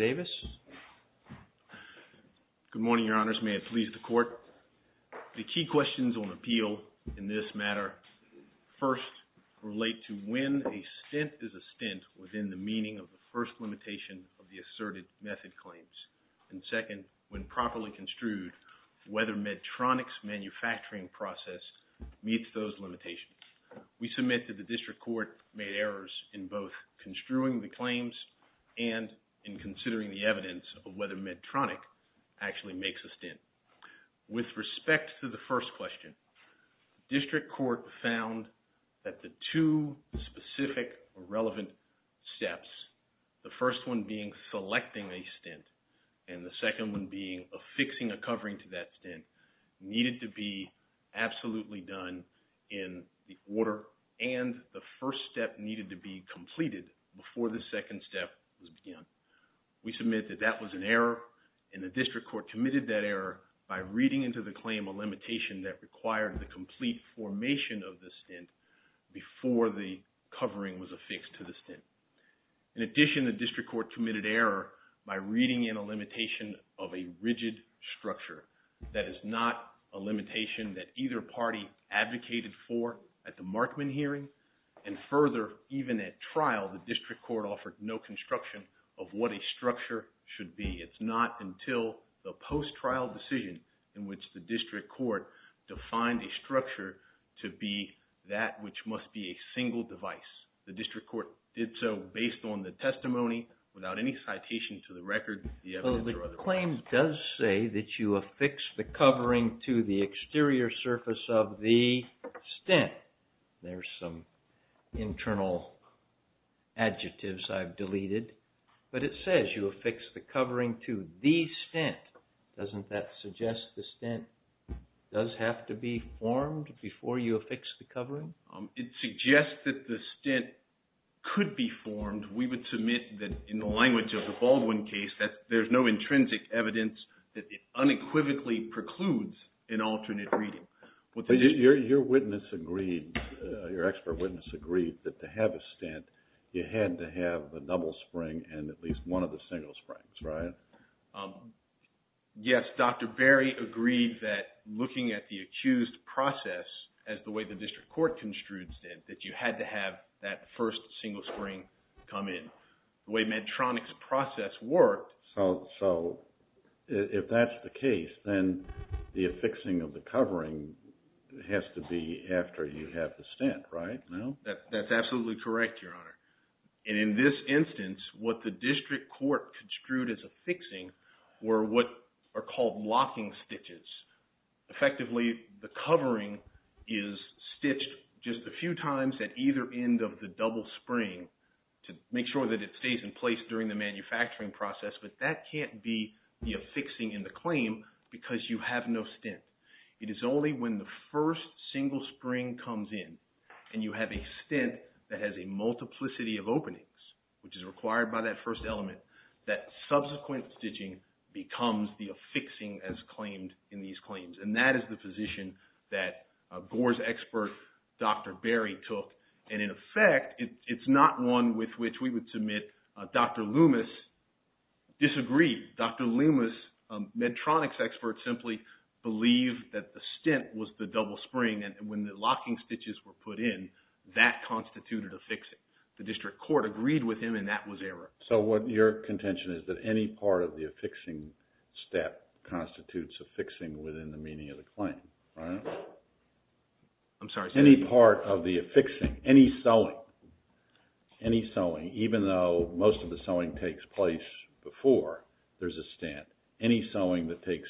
Good morning, Your Honors. May it please the Court. The key questions on appeal in this matter first relate to when a stint is a stint within the meaning of the first limitation of the asserted method claims. And second, when properly construed, whether MEDTRONIC's manufacturing process meets those limitations. We submit that the District Court made errors in both construing the claims and in considering the evidence of whether MEDTRONIC actually makes a stint. With respect to the first question, District Court found that the two specific or relevant steps, the first one being selecting a stint and the second one being affixing a covering to that stint, needed to be absolutely done in the order and the first step needed to be completed before the second step was begun. We submit that that was an error and the District Court committed that error by reading into the claim a limitation that required the complete formation of the stint before the covering was affixed to the stint. In addition, the District Court committed error by reading in a limitation of a rigid structure that is not a limitation that either party advocated for at the Markman hearing and further, even at trial, the District Court offered no construction of what a structure should be. It's not until the post-trial decision in which the District Court defined a structure to be that which must be a single device. The District Court did so based on the testimony without any citation to the record, the evidence, or otherwise. The claim does say that you affix the covering to the exterior surface of the stint. There's some internal adjectives I've deleted, but it says you affix the covering to the stint. Doesn't that suggest the stint does have to be formed before you affix the covering? It suggests that the stint could be formed. We would submit that in the language of the Baldwin case, that there's no intrinsic evidence that it unequivocally precludes an alternate reading. Your witness agreed, your expert witness agreed, that to have a stint, you had to have a double spring and at least one of the single springs, right? Yes, Dr. Berry agreed that looking at the accused process as the way the District Court construed stint, that you had to have that first single spring come in. The way Medtronic's process worked... If that's the case, then the affixing of the covering has to be after you have the stint, right? That's absolutely correct, your honor. In this instance, what the District Court construed as affixing were what are called locking stitches. Effectively, the covering is stitched just a few times at either end of the double spring to make sure that it stays in place during the manufacturing process, but that can't be the affixing in the claim because you have no stint. It is only when the first single spring comes in and you have a stint that has a multiplicity of openings, which is required by that first element, that subsequent stitching becomes the affixing as claimed in these claims. That is the position that Gore's expert, Dr. Berry, took. In effect, it's not one with which we would submit Dr. Loomis disagreed. Dr. Loomis, Medtronic's expert, simply believed that the stint was the double spring and when the locking stitches were put in, that constituted affixing. The District Court agreed with him and that was error. So what your contention is that any part of the affixing step constitutes affixing within the meaning of the claim, right? I'm sorry, sir. Any part of the affixing, any sewing, any sewing, even though most of the sewing takes place before there's a stint, any sewing that takes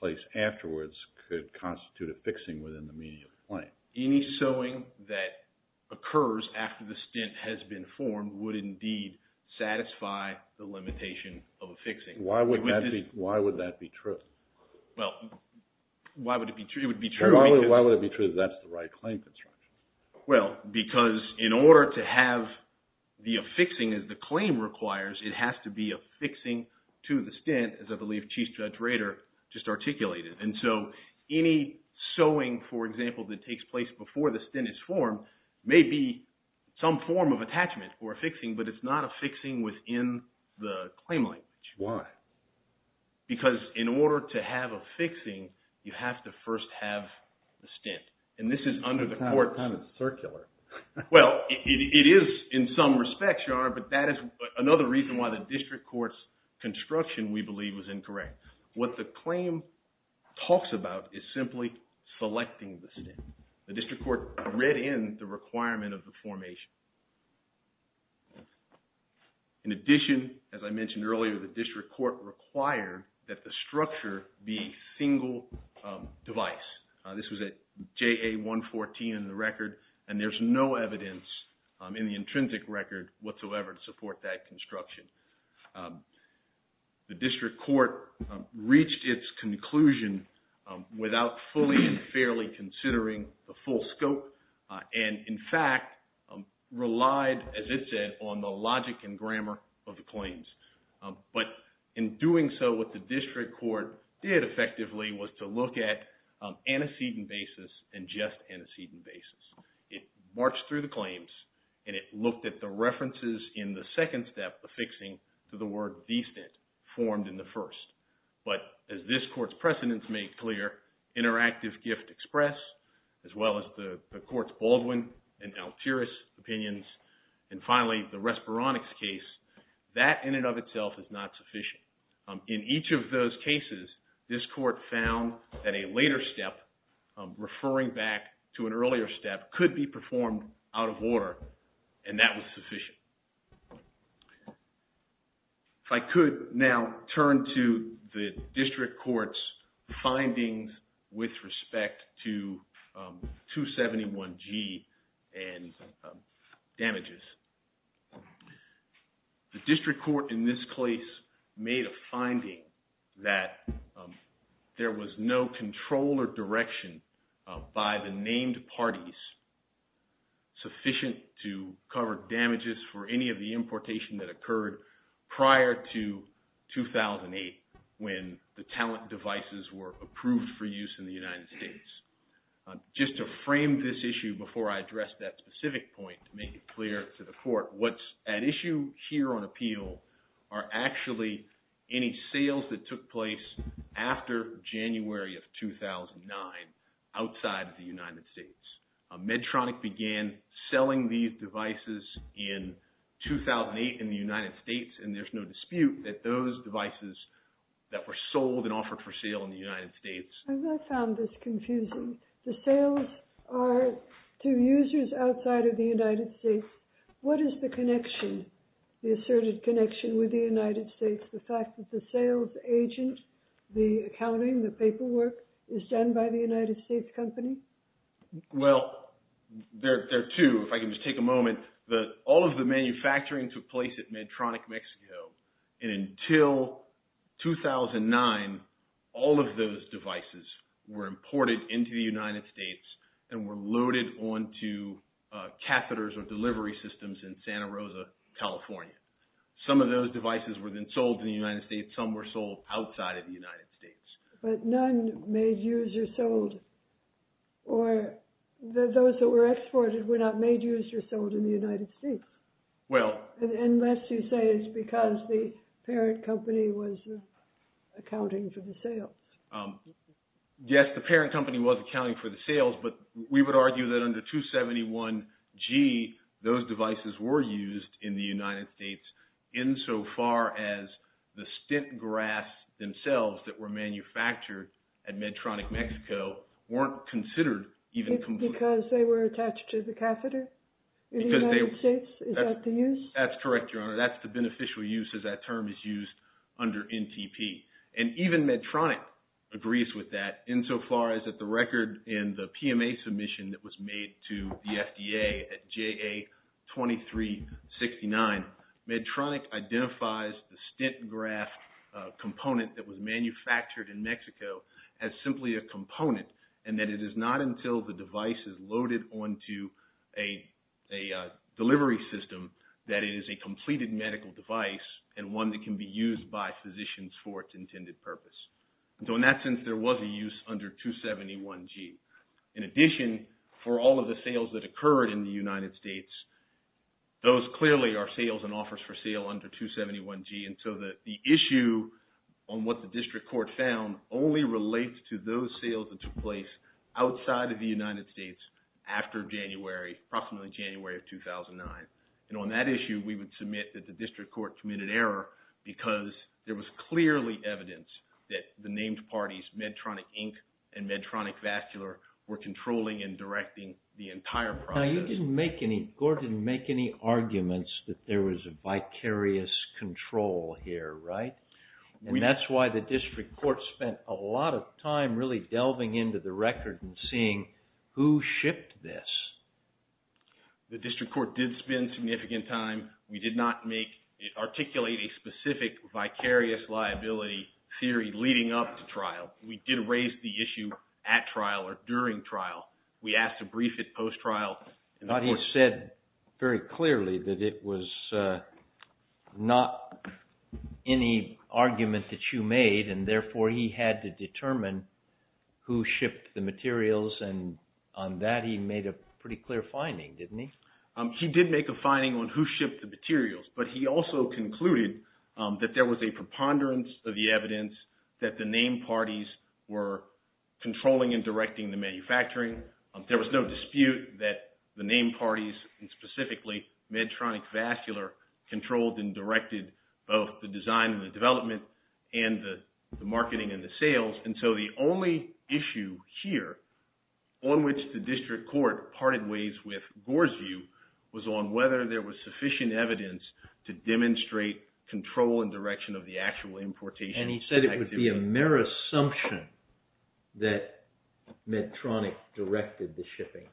place afterwards could constitute affixing within the meaning of the claim? Any sewing that occurs after the stint has been formed would indeed satisfy the limitation of affixing. Why would that be true? Well, why would it be true? It would be true... Why would it be true that that's the right claim construction? Well, because in order to have the affixing as the claim requires, it has to be affixing to the stint, as I believe Chief Judge Rader just articulated. And so, any sewing, for example, that takes place before the stint is formed, may be some form of attachment or affixing, but it's not affixing within the claim language. Why? Because in order to have affixing, you have to first have the stint. And this is under the court... It's kind of circular. Well, it is in some respects, Your Honor, but that is another reason why the district court's construction, we believe, was incorrect. What the claim talks about is simply selecting the stint. The district court read in the requirement of the formation. In addition, as I mentioned earlier, the district court required that the structure be single device. This was a JA-114 in the record, and there's no evidence in the intrinsic record whatsoever to support that construction. The district court reached its conclusion without fully and fairly considering the full scope, and in fact, relied, as it said, on the logic and grammar of the claims. But in doing so, what the district court did effectively was to look at antecedent basis and just antecedent basis. It marched through the claims, and it looked at the references in the second step affixing to the word the stint formed in the first. But as this court's precedents made clear, interactive gift express, as well as the court's Baldwin and Altiris opinions, and finally, the Respironics case, that in and of itself is not sufficient. In each of those cases, this court found that a later step, referring back to an earlier step, could be performed out of order, and that was sufficient. If I could now turn to the district court's findings with respect to 271G and damages. The district court in this case made a finding that there was no control or direction by the named parties sufficient to cover damages for any of the importation that occurred prior to 2008 when the talent devices were approved for use in the United States. Just to frame this issue before I address that specific point to make it clear to the court, what's at issue here on appeal are actually any sales that took place after January of 2009 outside the United States. Medtronic began selling these devices in 2008 in the United States, and there's no dispute that those devices that were sold and offered for sale in the United States... I found this confusing. The sales are to users outside of the United States. What is the connection, the asserted connection with the United States, the fact that the sales agent, the accounting, the paperwork is done by the United States company? Well, there are two, if I can just take a moment. All of the manufacturing took place at Medtronic Mexico, and until 2009, all of those devices were imported into the United States and were loaded onto catheters or delivery systems in Santa Rosa, California. Some of them were exported outside of the United States. But none made, used, or sold, or those that were exported were not made, used, or sold in the United States, unless you say it's because the parent company was accounting for the sales. Yes, the parent company was accounting for the sales, but we would argue that under 271G, those devices were used in the United States, insofar as the stint grass themselves that were manufactured at Medtronic Mexico weren't considered even completely... Because they were attached to the catheter in the United States? Is that the use? That's correct, Your Honor. That's the beneficial use, as that term is used under NTP. And even Medtronic agrees with that, insofar as that the record in the PMA submission that was made to the FDA at JA2369, Medtronic identifies the stint grass component that was manufactured in Mexico as simply a component, and that it is not until the device is loaded onto a delivery system that it is a completed medical device, and one that can be used by physicians for its intended purpose. So in that sense, there was a use under 271G. In addition, for all of the sales that occurred in the United States, those clearly are sales and offers for sale under 271G, and so the issue on what the district court found only relates to those sales that took place outside of the United States after January, approximately January of 2009. And on that issue, we would admit that the district court committed error, because there was clearly evidence that the named parties, Medtronic Inc. and Medtronic Vascular, were controlling and directing the entire process. Now you didn't make any, Gordon didn't make any arguments that there was a vicarious control here, right? And that's why the district court spent a lot of time really delving into the record and seeing who shipped this. The district court did spend significant time. We did not articulate a specific vicarious liability theory leading up to trial. We did raise the issue at trial or during trial. We asked to brief it post-trial. But he said very clearly that it was not any argument that you made, and therefore he had to determine who shipped the materials, and on that he made a pretty clear finding, didn't he? He did make a finding on who shipped the materials, but he also concluded that there was a preponderance of the evidence that the named parties were controlling and directing the manufacturing. There was no dispute that the named parties, and specifically Medtronic Vascular, controlled and directed both the design and the development and the marketing and the sales, and so the only issue here on which the district court parted ways with Gore's view was on whether there was sufficient evidence to demonstrate control and direction of the actual importation activity. And he said it would be a mere assumption that Medtronic directed the shipping.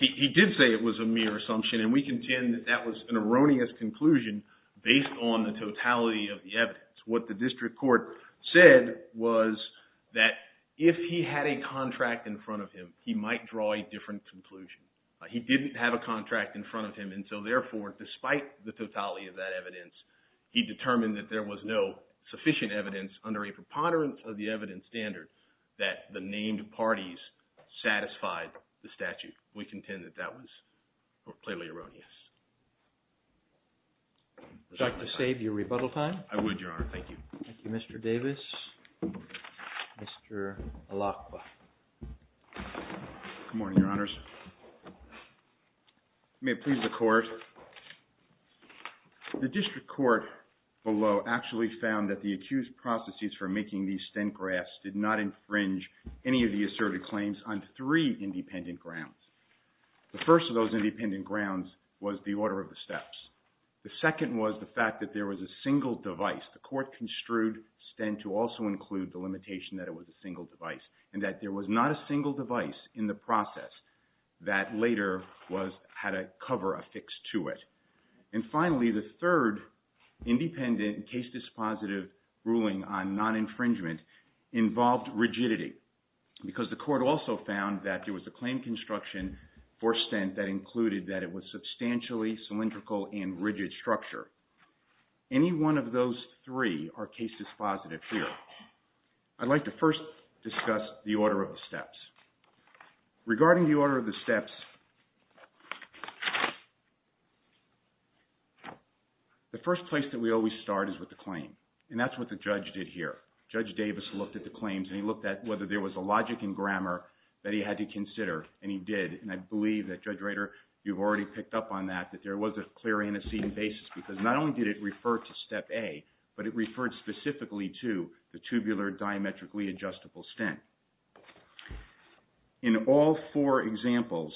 He did say it was a mere assumption, and we contend that that was an erroneous conclusion based on the totality of the evidence. What the district court said was that if he had a contract in front of him, he might draw a different conclusion. He didn't have a contract in front of him, and so therefore, despite the totality of that evidence, he determined that there was no sufficient evidence under a preponderance of the evidence standard that the named parties satisfied the statute. We contend that that was clearly erroneous. Would you like to save your rebuttal time? I would, Your Honor. Thank you. Thank you, Mr. Davis. Mr. Alacqua. Good morning, Your Honors. May it please the Court. The district court below actually found that the accused processes for making these Sten graphs did not infringe any of the asserted claims on three independent grounds. The first of those independent grounds was the order of the steps. The second was the fact that there was a single device. The court construed Sten to also include the limitation that it was a single device and that there was not a single device in the process that later had a cover affixed to it. And finally, the third independent case dispositive ruling on non-infringement involved rigidity because the court also found that there was a claim construction for Sten that included that it was substantially cylindrical and rigid structure. Any one of those three are case dispositive here. I'd like to first discuss the order of the steps. Regarding the order of the steps, the first place that we always start is with the claim. And that's what the judge did here. Judge Davis looked at the claims and he looked at whether there was a logic and grammar that he had to consider, and he did. And I believe that, Judge Rader, you've already picked up on that, that there was a clear antecedent basis because not only did it refer to Step A, but it referred specifically to the tubular diametrically adjustable Sten. In all four examples,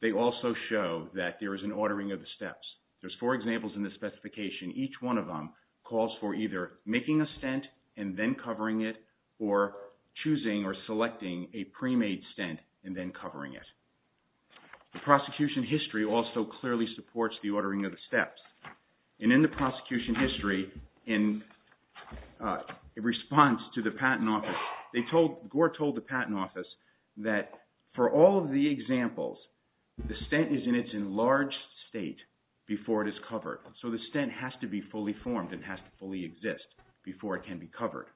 they also show that there is an ordering of the steps. There's four examples in this specification. Each one of them calls for either making a Sten and then covering it or choosing or selecting a pre-made Sten and then covering it. And in the prosecution history, in response to the Patent Office, Gore told the Patent Office that for all of the examples, the Sten is in its enlarged state before it is covered. So the Sten has to be fully formed and has to fully exist before it can be covered.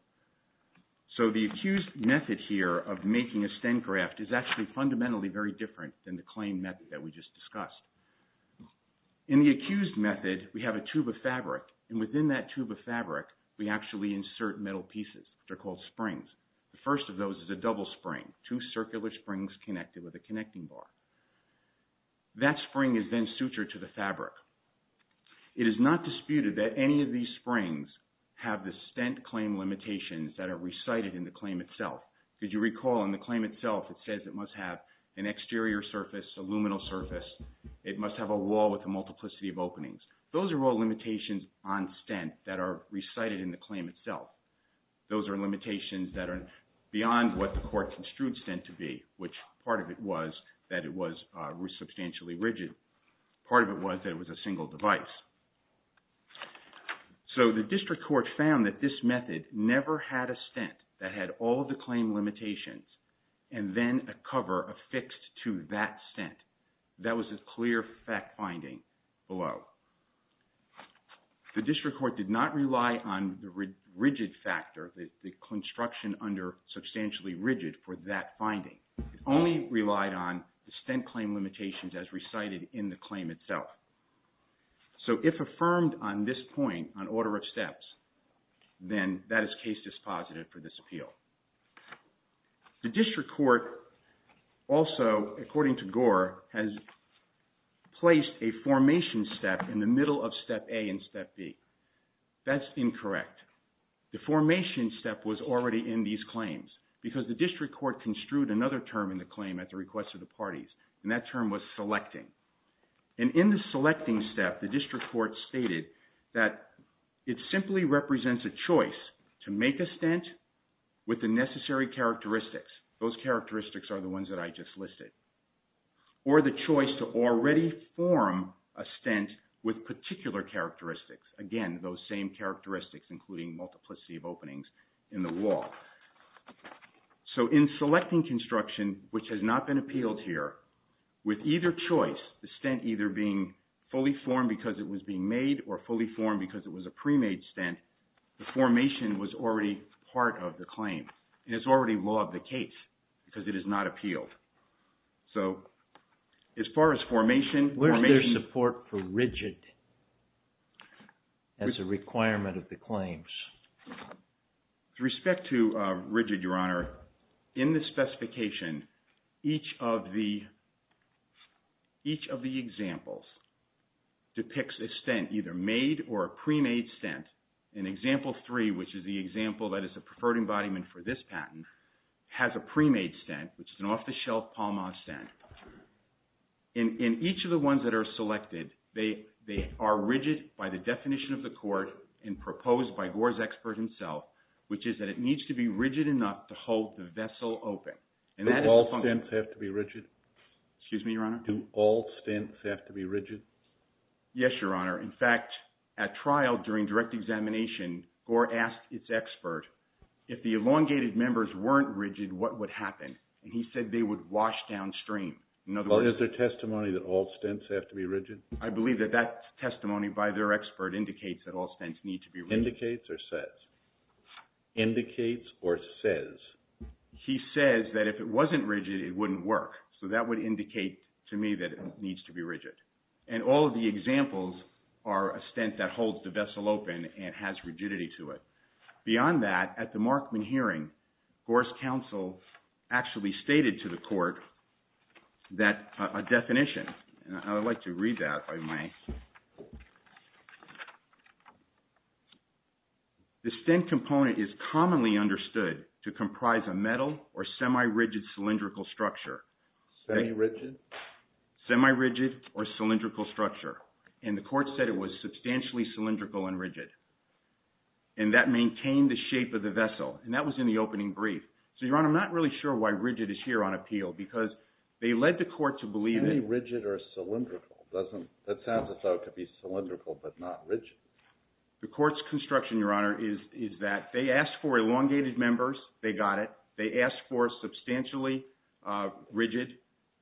So the accused method here of making a Sten graft is actually fundamentally very different than the claim method that we just discussed. In the accused method, we have a tube of fabric, and within that tube of fabric, we actually insert metal pieces, which are called springs. The first of those is a double spring, two circular springs connected with a connecting bar. That spring is then sutured to the fabric. It is not disputed that any of these springs have the Stent Claim Limitations that are recited in the claim itself. Because you recall in the claim itself, it says it must have an exterior surface, a luminal surface. It must have a wall with a multiplicity of openings. Those are all limitations on Stent that are recited in the claim itself. Those are limitations that are beyond what the court construed Stent to be, which part of it was that it was substantially rigid. Part of it was that it was a single device. The district court found that this method never had a Stent that had all of the claim limitations and then a cover affixed to that Stent. That was a clear fact finding below. The district court did not rely on the rigid factor, the construction under substantially rigid for that finding. It only relied on the Stent Claim Limitations as recited in the claim itself. So if affirmed on this point, on order of steps, then that is case dispositive for this appeal. The district court also, according to Gore, has placed a formation step in the middle of Step A and Step B. That's incorrect. The formation step was already in these claims because the district court construed another term in the claim at the request of the parties, and that term was selecting. In the selecting step, the district court stated that it simply represents a choice to make a Stent with the necessary characteristics, those characteristics are the ones that I just listed, or the choice to already form a Stent with particular characteristics, again those same characteristics including multiplicity of openings in the wall. So in selecting construction, which has not been appealed here, with either choice, the Stent either being fully formed because it was being made or fully formed because it was a pre-made Stent, the formation was already part of the claim. And it's already law of the case because it is not appealed. So as far as formation... Where is there support for rigid as a requirement of the claims? With respect to rigid, Your Honor, in the specification, each of the examples depicts a Stent, either made or a pre-made Stent. In Example 3, which is the example that is the preferred embodiment for this patent, has a pre-made Stent, which is an off-the-shelf Palmaz Stent. In each of the ones that are selected, they are rigid by the definition of the court and by Gor's expert himself, which is that it needs to be rigid enough to hold the vessel open. Do all Stents have to be rigid? Excuse me, Your Honor? Do all Stents have to be rigid? Yes, Your Honor. In fact, at trial during direct examination, Gor asked its expert, if the elongated members weren't rigid, what would happen? And he said they would wash downstream. Or is there testimony that all Stents have to be rigid? I believe that that testimony by their expert indicates that all Stents need to be rigid. Indicates or says? Indicates or says? He says that if it wasn't rigid, it wouldn't work. So that would indicate to me that it needs to be rigid. And all of the examples are a Stent that holds the vessel open and has rigidity to it. Beyond that, at the Markman hearing, Gor's counsel actually stated to the court that a definition, and I would like to read that if I may. The Stent component is commonly understood to comprise a metal or semi-rigid cylindrical structure. Semi-rigid? Semi-rigid or cylindrical structure. And the court said it was substantially cylindrical and rigid. And that maintained the shape of the vessel. And that was in the opening brief. So, Your Honor, I'm not really sure why rigid is here on appeal. Because they led the court to believe that. Semi-rigid or cylindrical? That sounds as though it could be cylindrical but not rigid. The court's construction, Your Honor, is that they asked for elongated members. They got it. They asked for substantially rigid,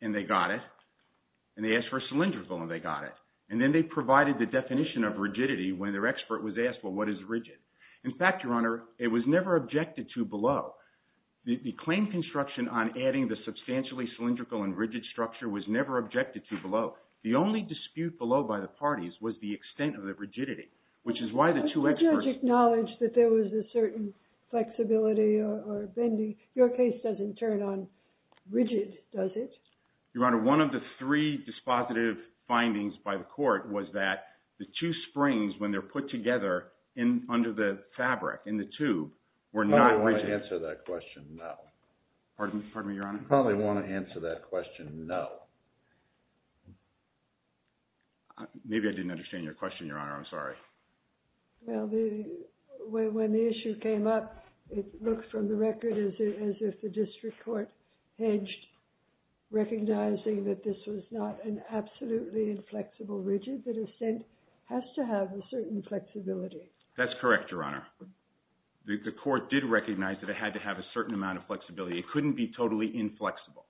and they got it. And they asked for cylindrical, and they got it. And then they provided the definition of rigidity when their expert was asked, well, what is rigid? In fact, Your Honor, it was never objected to below. The claim construction on adding the substantially cylindrical and rigid structure was never objected to below. The only dispute below by the parties was the extent of the rigidity, which is why the two experts— But you acknowledge that there was a certain flexibility or bending. Your case doesn't turn on rigid, does it? Your Honor, one of the three dispositive findings by the court was that the two springs, when they're put together under the fabric, in the tube, were not rigid. Probably want to answer that question, no. Pardon me, Your Honor? Probably want to answer that question, no. Maybe I didn't understand your question, Your Honor. I'm sorry. Well, when the issue came up, it looked from the record as if the district court hedged, recognizing that this was not an absolutely inflexible rigid that has to have a certain flexibility. That's correct, Your Honor. The court did recognize that it had to have a certain amount of flexibility. It couldn't be totally inflexible.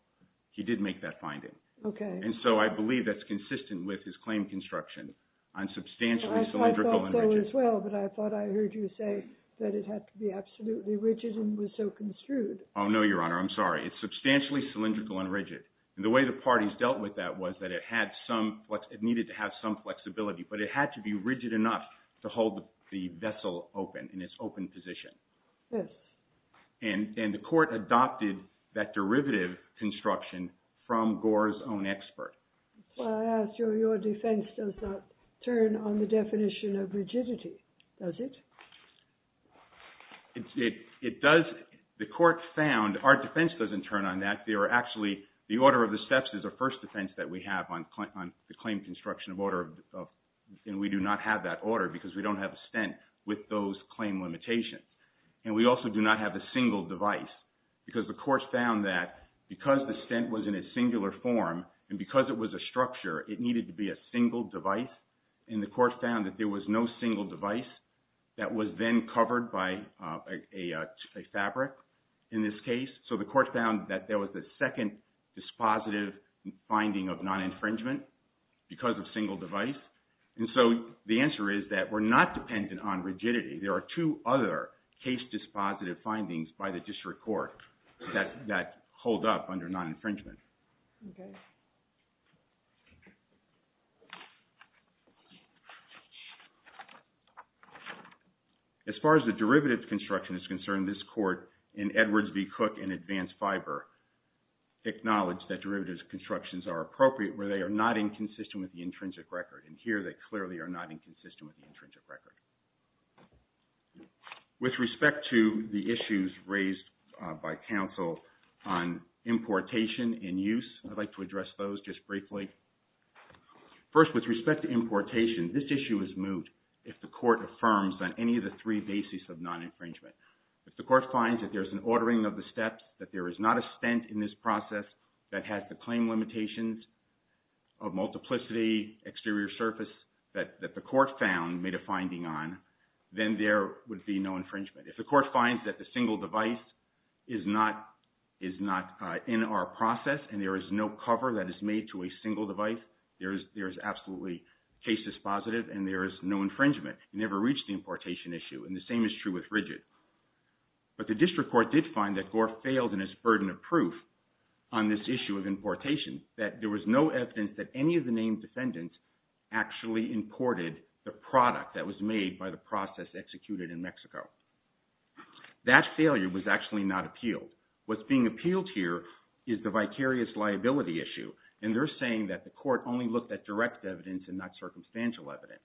He did make that finding. Okay. And so I believe that's consistent with his claim construction on substantially cylindrical and rigid. I thought so as well, but I thought I heard you say that it had to be absolutely rigid and was so construed. Oh, no, Your Honor. I'm sorry. It's substantially cylindrical and rigid. And the way the parties dealt with that was that it needed to have some flexibility, but it had to be rigid enough to hold the vessel open in its open position. Yes. And the court adopted that derivative construction from Gore's own expert. Well, I ask you, your defense does not turn on the definition of rigidity, does it? It does. The court found our defense doesn't turn on that. Actually, the order of the steps is the first defense that we have on the claim construction order, and we do not have that order because we don't have a stent with those claim limitations. And we also do not have a single device because the court found that because the stent was in a singular form and because it was a structure, it needed to be a single device, and the court found that there was no single device that was then covered by a fabric in this case. So the court found that there was a second dispositive finding of non-infringement because of single device. And so the answer is that we're not dependent on rigidity. There are two other case dispositive findings by the district court that hold up under non-infringement. Okay. As far as the derivative construction is concerned, this court in Edwards v. Cook in advanced fiber acknowledged that derivative constructions are appropriate where they are not inconsistent with the intrinsic record. And here they clearly are not inconsistent with the intrinsic record. With respect to the issues raised by counsel on importation and use, I'd like to address those just briefly. First, with respect to importation, this issue is moot if the court affirms on any of the three bases of non-infringement. If the court finds that there's an ordering of the steps, that there is not a stent in this process that has the claim limitations of multiplicity, exterior surface, that the court found made a finding on, then there would be no infringement. If the court finds that the single device is not in our process and there is no cover that is made to a single device, there is absolutely case dispositive and there is no infringement. You never reach the importation issue, and the same is true with rigid. But the district court did find that Gore failed in his burden of proof on this issue of importation, that there was no evidence that any of the named defendants actually imported the product that was made by the process executed in Mexico. That failure was actually not appealed. What's being appealed here is the vicarious liability issue, and they're saying that the court only looked at direct evidence and not circumstantial evidence,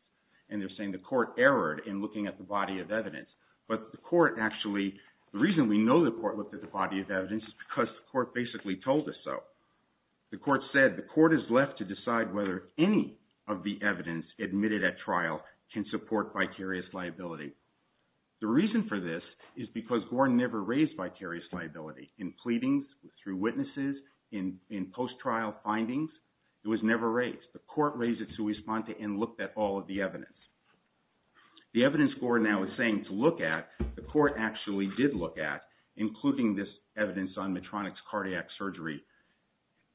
and they're saying the court erred in looking at the body of evidence. But the court actually – the reason we know the court looked at the body of evidence is because the court basically told us so. The court said the court is left to decide whether any of the evidence admitted at trial can support vicarious liability. The reason for this is because Gore never raised vicarious liability in pleadings, through witnesses, in post-trial findings. It was never raised. The court raised it sui sponte and looked at all of the evidence. The evidence Gore now is saying to look at, the court actually did look at, including this evidence on Medtronic's cardiac surgery,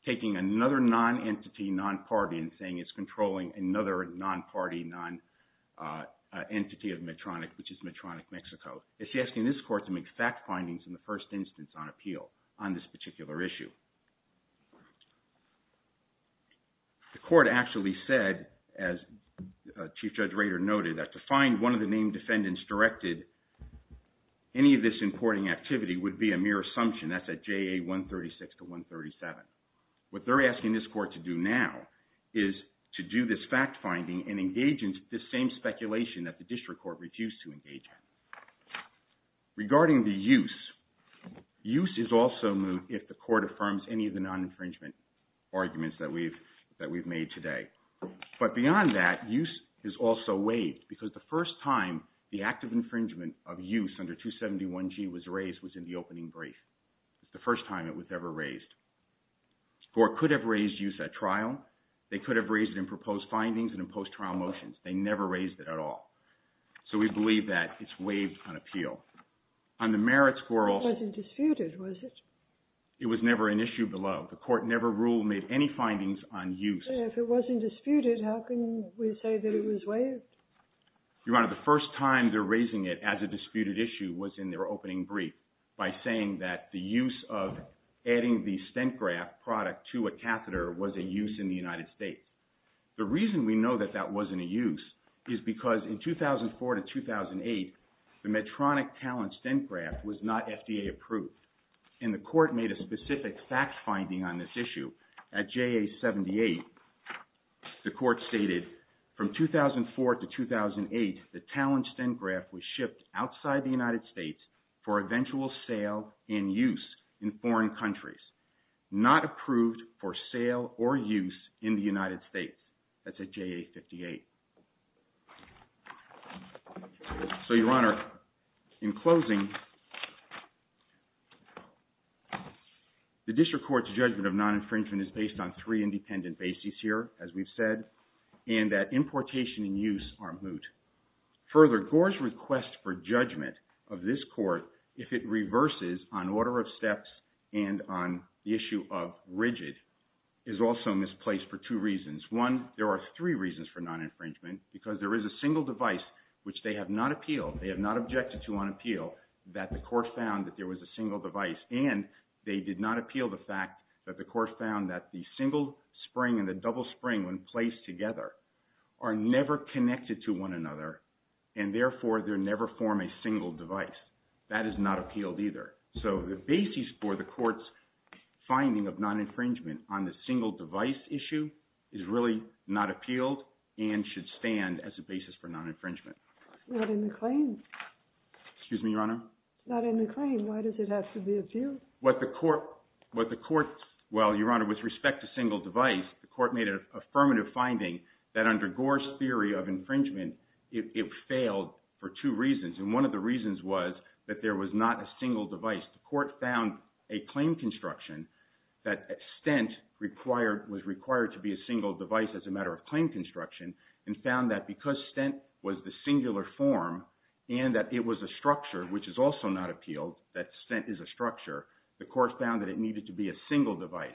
taking another non-entity, non-party, and saying it's controlling another non-party, non-entity of Medtronic, which is Medtronic, Mexico. It's asking this court to make fact findings in the first instance on appeal on this particular issue. The court actually said, as Chief Judge Rader noted, that to find one of the named defendants directed any of this importing activity would be a mere assumption. That's at JA 136 to 137. What they're asking this court to do now is to do this fact finding and engage in this same speculation that the district court refused to engage in. Regarding the use, use is also moot if the court affirms any of the non-infringement arguments that we've made today. But beyond that, use is also waived, because the first time the act of infringement of use under 271G was raised was in the opening brief. It's the first time it was ever raised. The court could have raised use at trial. They could have raised it in proposed findings and in post-trial motions. They never raised it at all. So we believe that it's waived on appeal. On the merit squirrels… It wasn't disputed, was it? It was never an issue below. The court never ruled, made any findings on use. If it wasn't disputed, how can we say that it was waived? Your Honor, the first time they're raising it as a disputed issue was in their opening brief by saying that the use of adding the StentGraft product to a catheter was a use in the United States. The reason we know that that wasn't a use is because in 2004 to 2008, the Medtronic Talon StentGraft was not FDA approved. And the court made a specific fact finding on this issue. At JA 78, the court stated, from 2004 to 2008, the Talon StentGraft was shipped outside the United States for eventual sale and use in foreign countries. Not approved for sale or use in the United States. That's at JA 58. So, Your Honor, in closing, the district court's judgment of non-infringement is based on three independent bases here, as we've said, and that importation and use are moot. Further, Gore's request for judgment of this court, if it reverses on order of steps and on the issue of rigid, is also misplaced for two reasons. One, there are three reasons for non-infringement. Because there is a single device, which they have not appealed, they have not objected to on appeal, that the court found that there was a single device. And they did not appeal the fact that the court found that the single spring and the double spring, when placed together, are never connected to one another. And therefore, they never form a single device. That is not appealed either. So the basis for the court's finding of non-infringement on the single device issue is really not appealed and should stand as a basis for non-infringement. Not in the claim. Excuse me, Your Honor? Not in the claim. Why does it have to be appealed? What the court – well, Your Honor, with respect to single device, the court made an affirmative finding that under Gore's theory of infringement, it failed for two reasons. And one of the reasons was that there was not a single device. The court found a claim construction that stent was required to be a single device as a matter of claim construction, and found that because stent was the singular form, and that it was a structure, which is also not appealed, that stent is a structure, the court found that it needed to be a single device.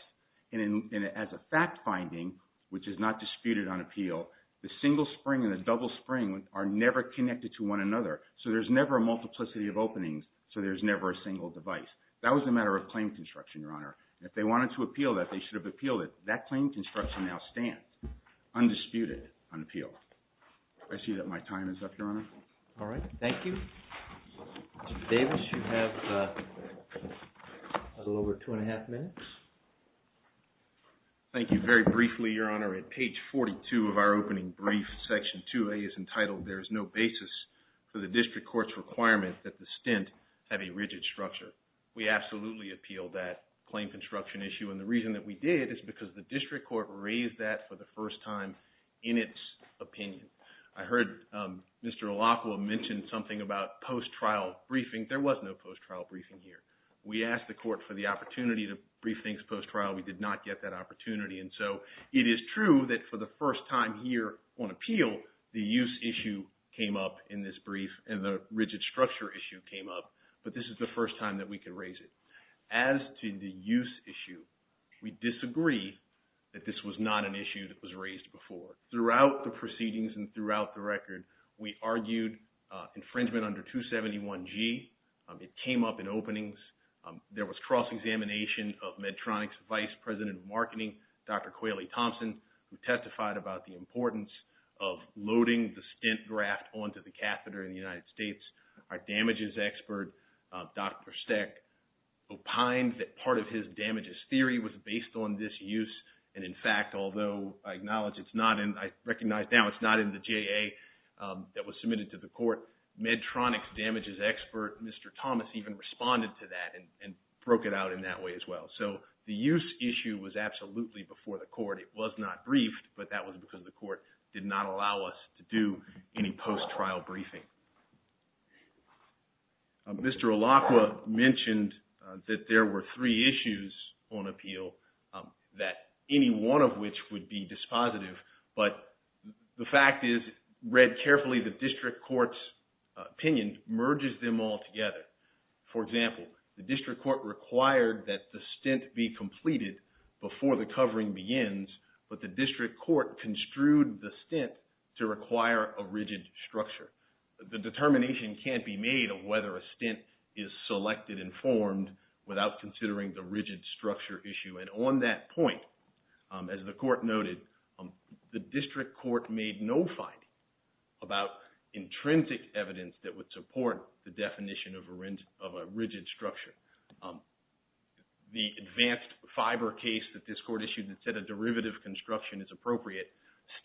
And as a fact finding, which is not disputed on appeal, the single spring and the double spring are never connected to one another. So there's never a multiplicity of openings. So there's never a single device. That was a matter of claim construction, Your Honor. If they wanted to appeal that, they should have appealed it. That claim construction now stands. Undisputed on appeal. I see that my time is up, Your Honor. All right. Thank you. Mr. Davis, you have a little over two and a half minutes. Thank you. Very briefly, Your Honor, at page 42 of our opening brief, section 2A is entitled, There is no basis for the district court's requirement that the stent have a rigid structure. We absolutely appealed that claim construction issue. And the reason that we did is because the district court raised that for the first time in its opinion. I heard Mr. Alopua mention something about post-trial briefing. There was no post-trial briefing here. We asked the court for the opportunity to brief things post-trial. We did not get that opportunity. And so it is true that for the first time here on appeal, the use issue came up in this brief and the rigid structure issue came up. But this is the first time that we could raise it. As to the use issue, we disagree that this was not an issue that was raised before. Throughout the proceedings and throughout the record, we argued infringement under 271G. It came up in openings. There was cross-examination of Medtronic's Vice President of Marketing, Dr. Qualey Thompson, who testified about the importance of loading the stent graft onto the catheter in the United States. Our damages expert, Dr. Steck, opined that part of his damages theory was based on this use. And, in fact, although I acknowledge it's not in, I recognize now it's not in the JA that was submitted to the court, Medtronic's damages expert, Mr. Thomas, even responded to that and broke it out in that way as well. So the use issue was absolutely before the court. It was not briefed, but that was because the court did not allow us to do any post-trial briefing. Mr. Alacqua mentioned that there were three issues on appeal that any one of which would be dispositive. But the fact is, read carefully, the district court's opinion merges them all together. For example, the district court required that the stent be completed before the covering begins, but the district court construed the stent to require a rigid structure. The determination can't be made of whether a stent is selected and formed without considering the rigid structure issue. And on that point, as the court noted, the district court made no finding about intrinsic evidence that would support the definition of a rigid structure. The advanced fiber case that this court issued that said a derivative construction is appropriate,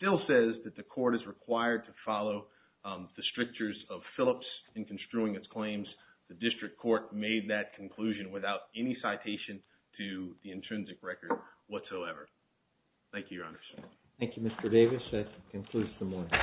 still says that the court is required to follow the strictures of Phillips in construing its claims. The district court made that conclusion without any citation to the intrinsic record whatsoever. Thank you, Your Honors. Thank you, Mr. Davis. That concludes the morning.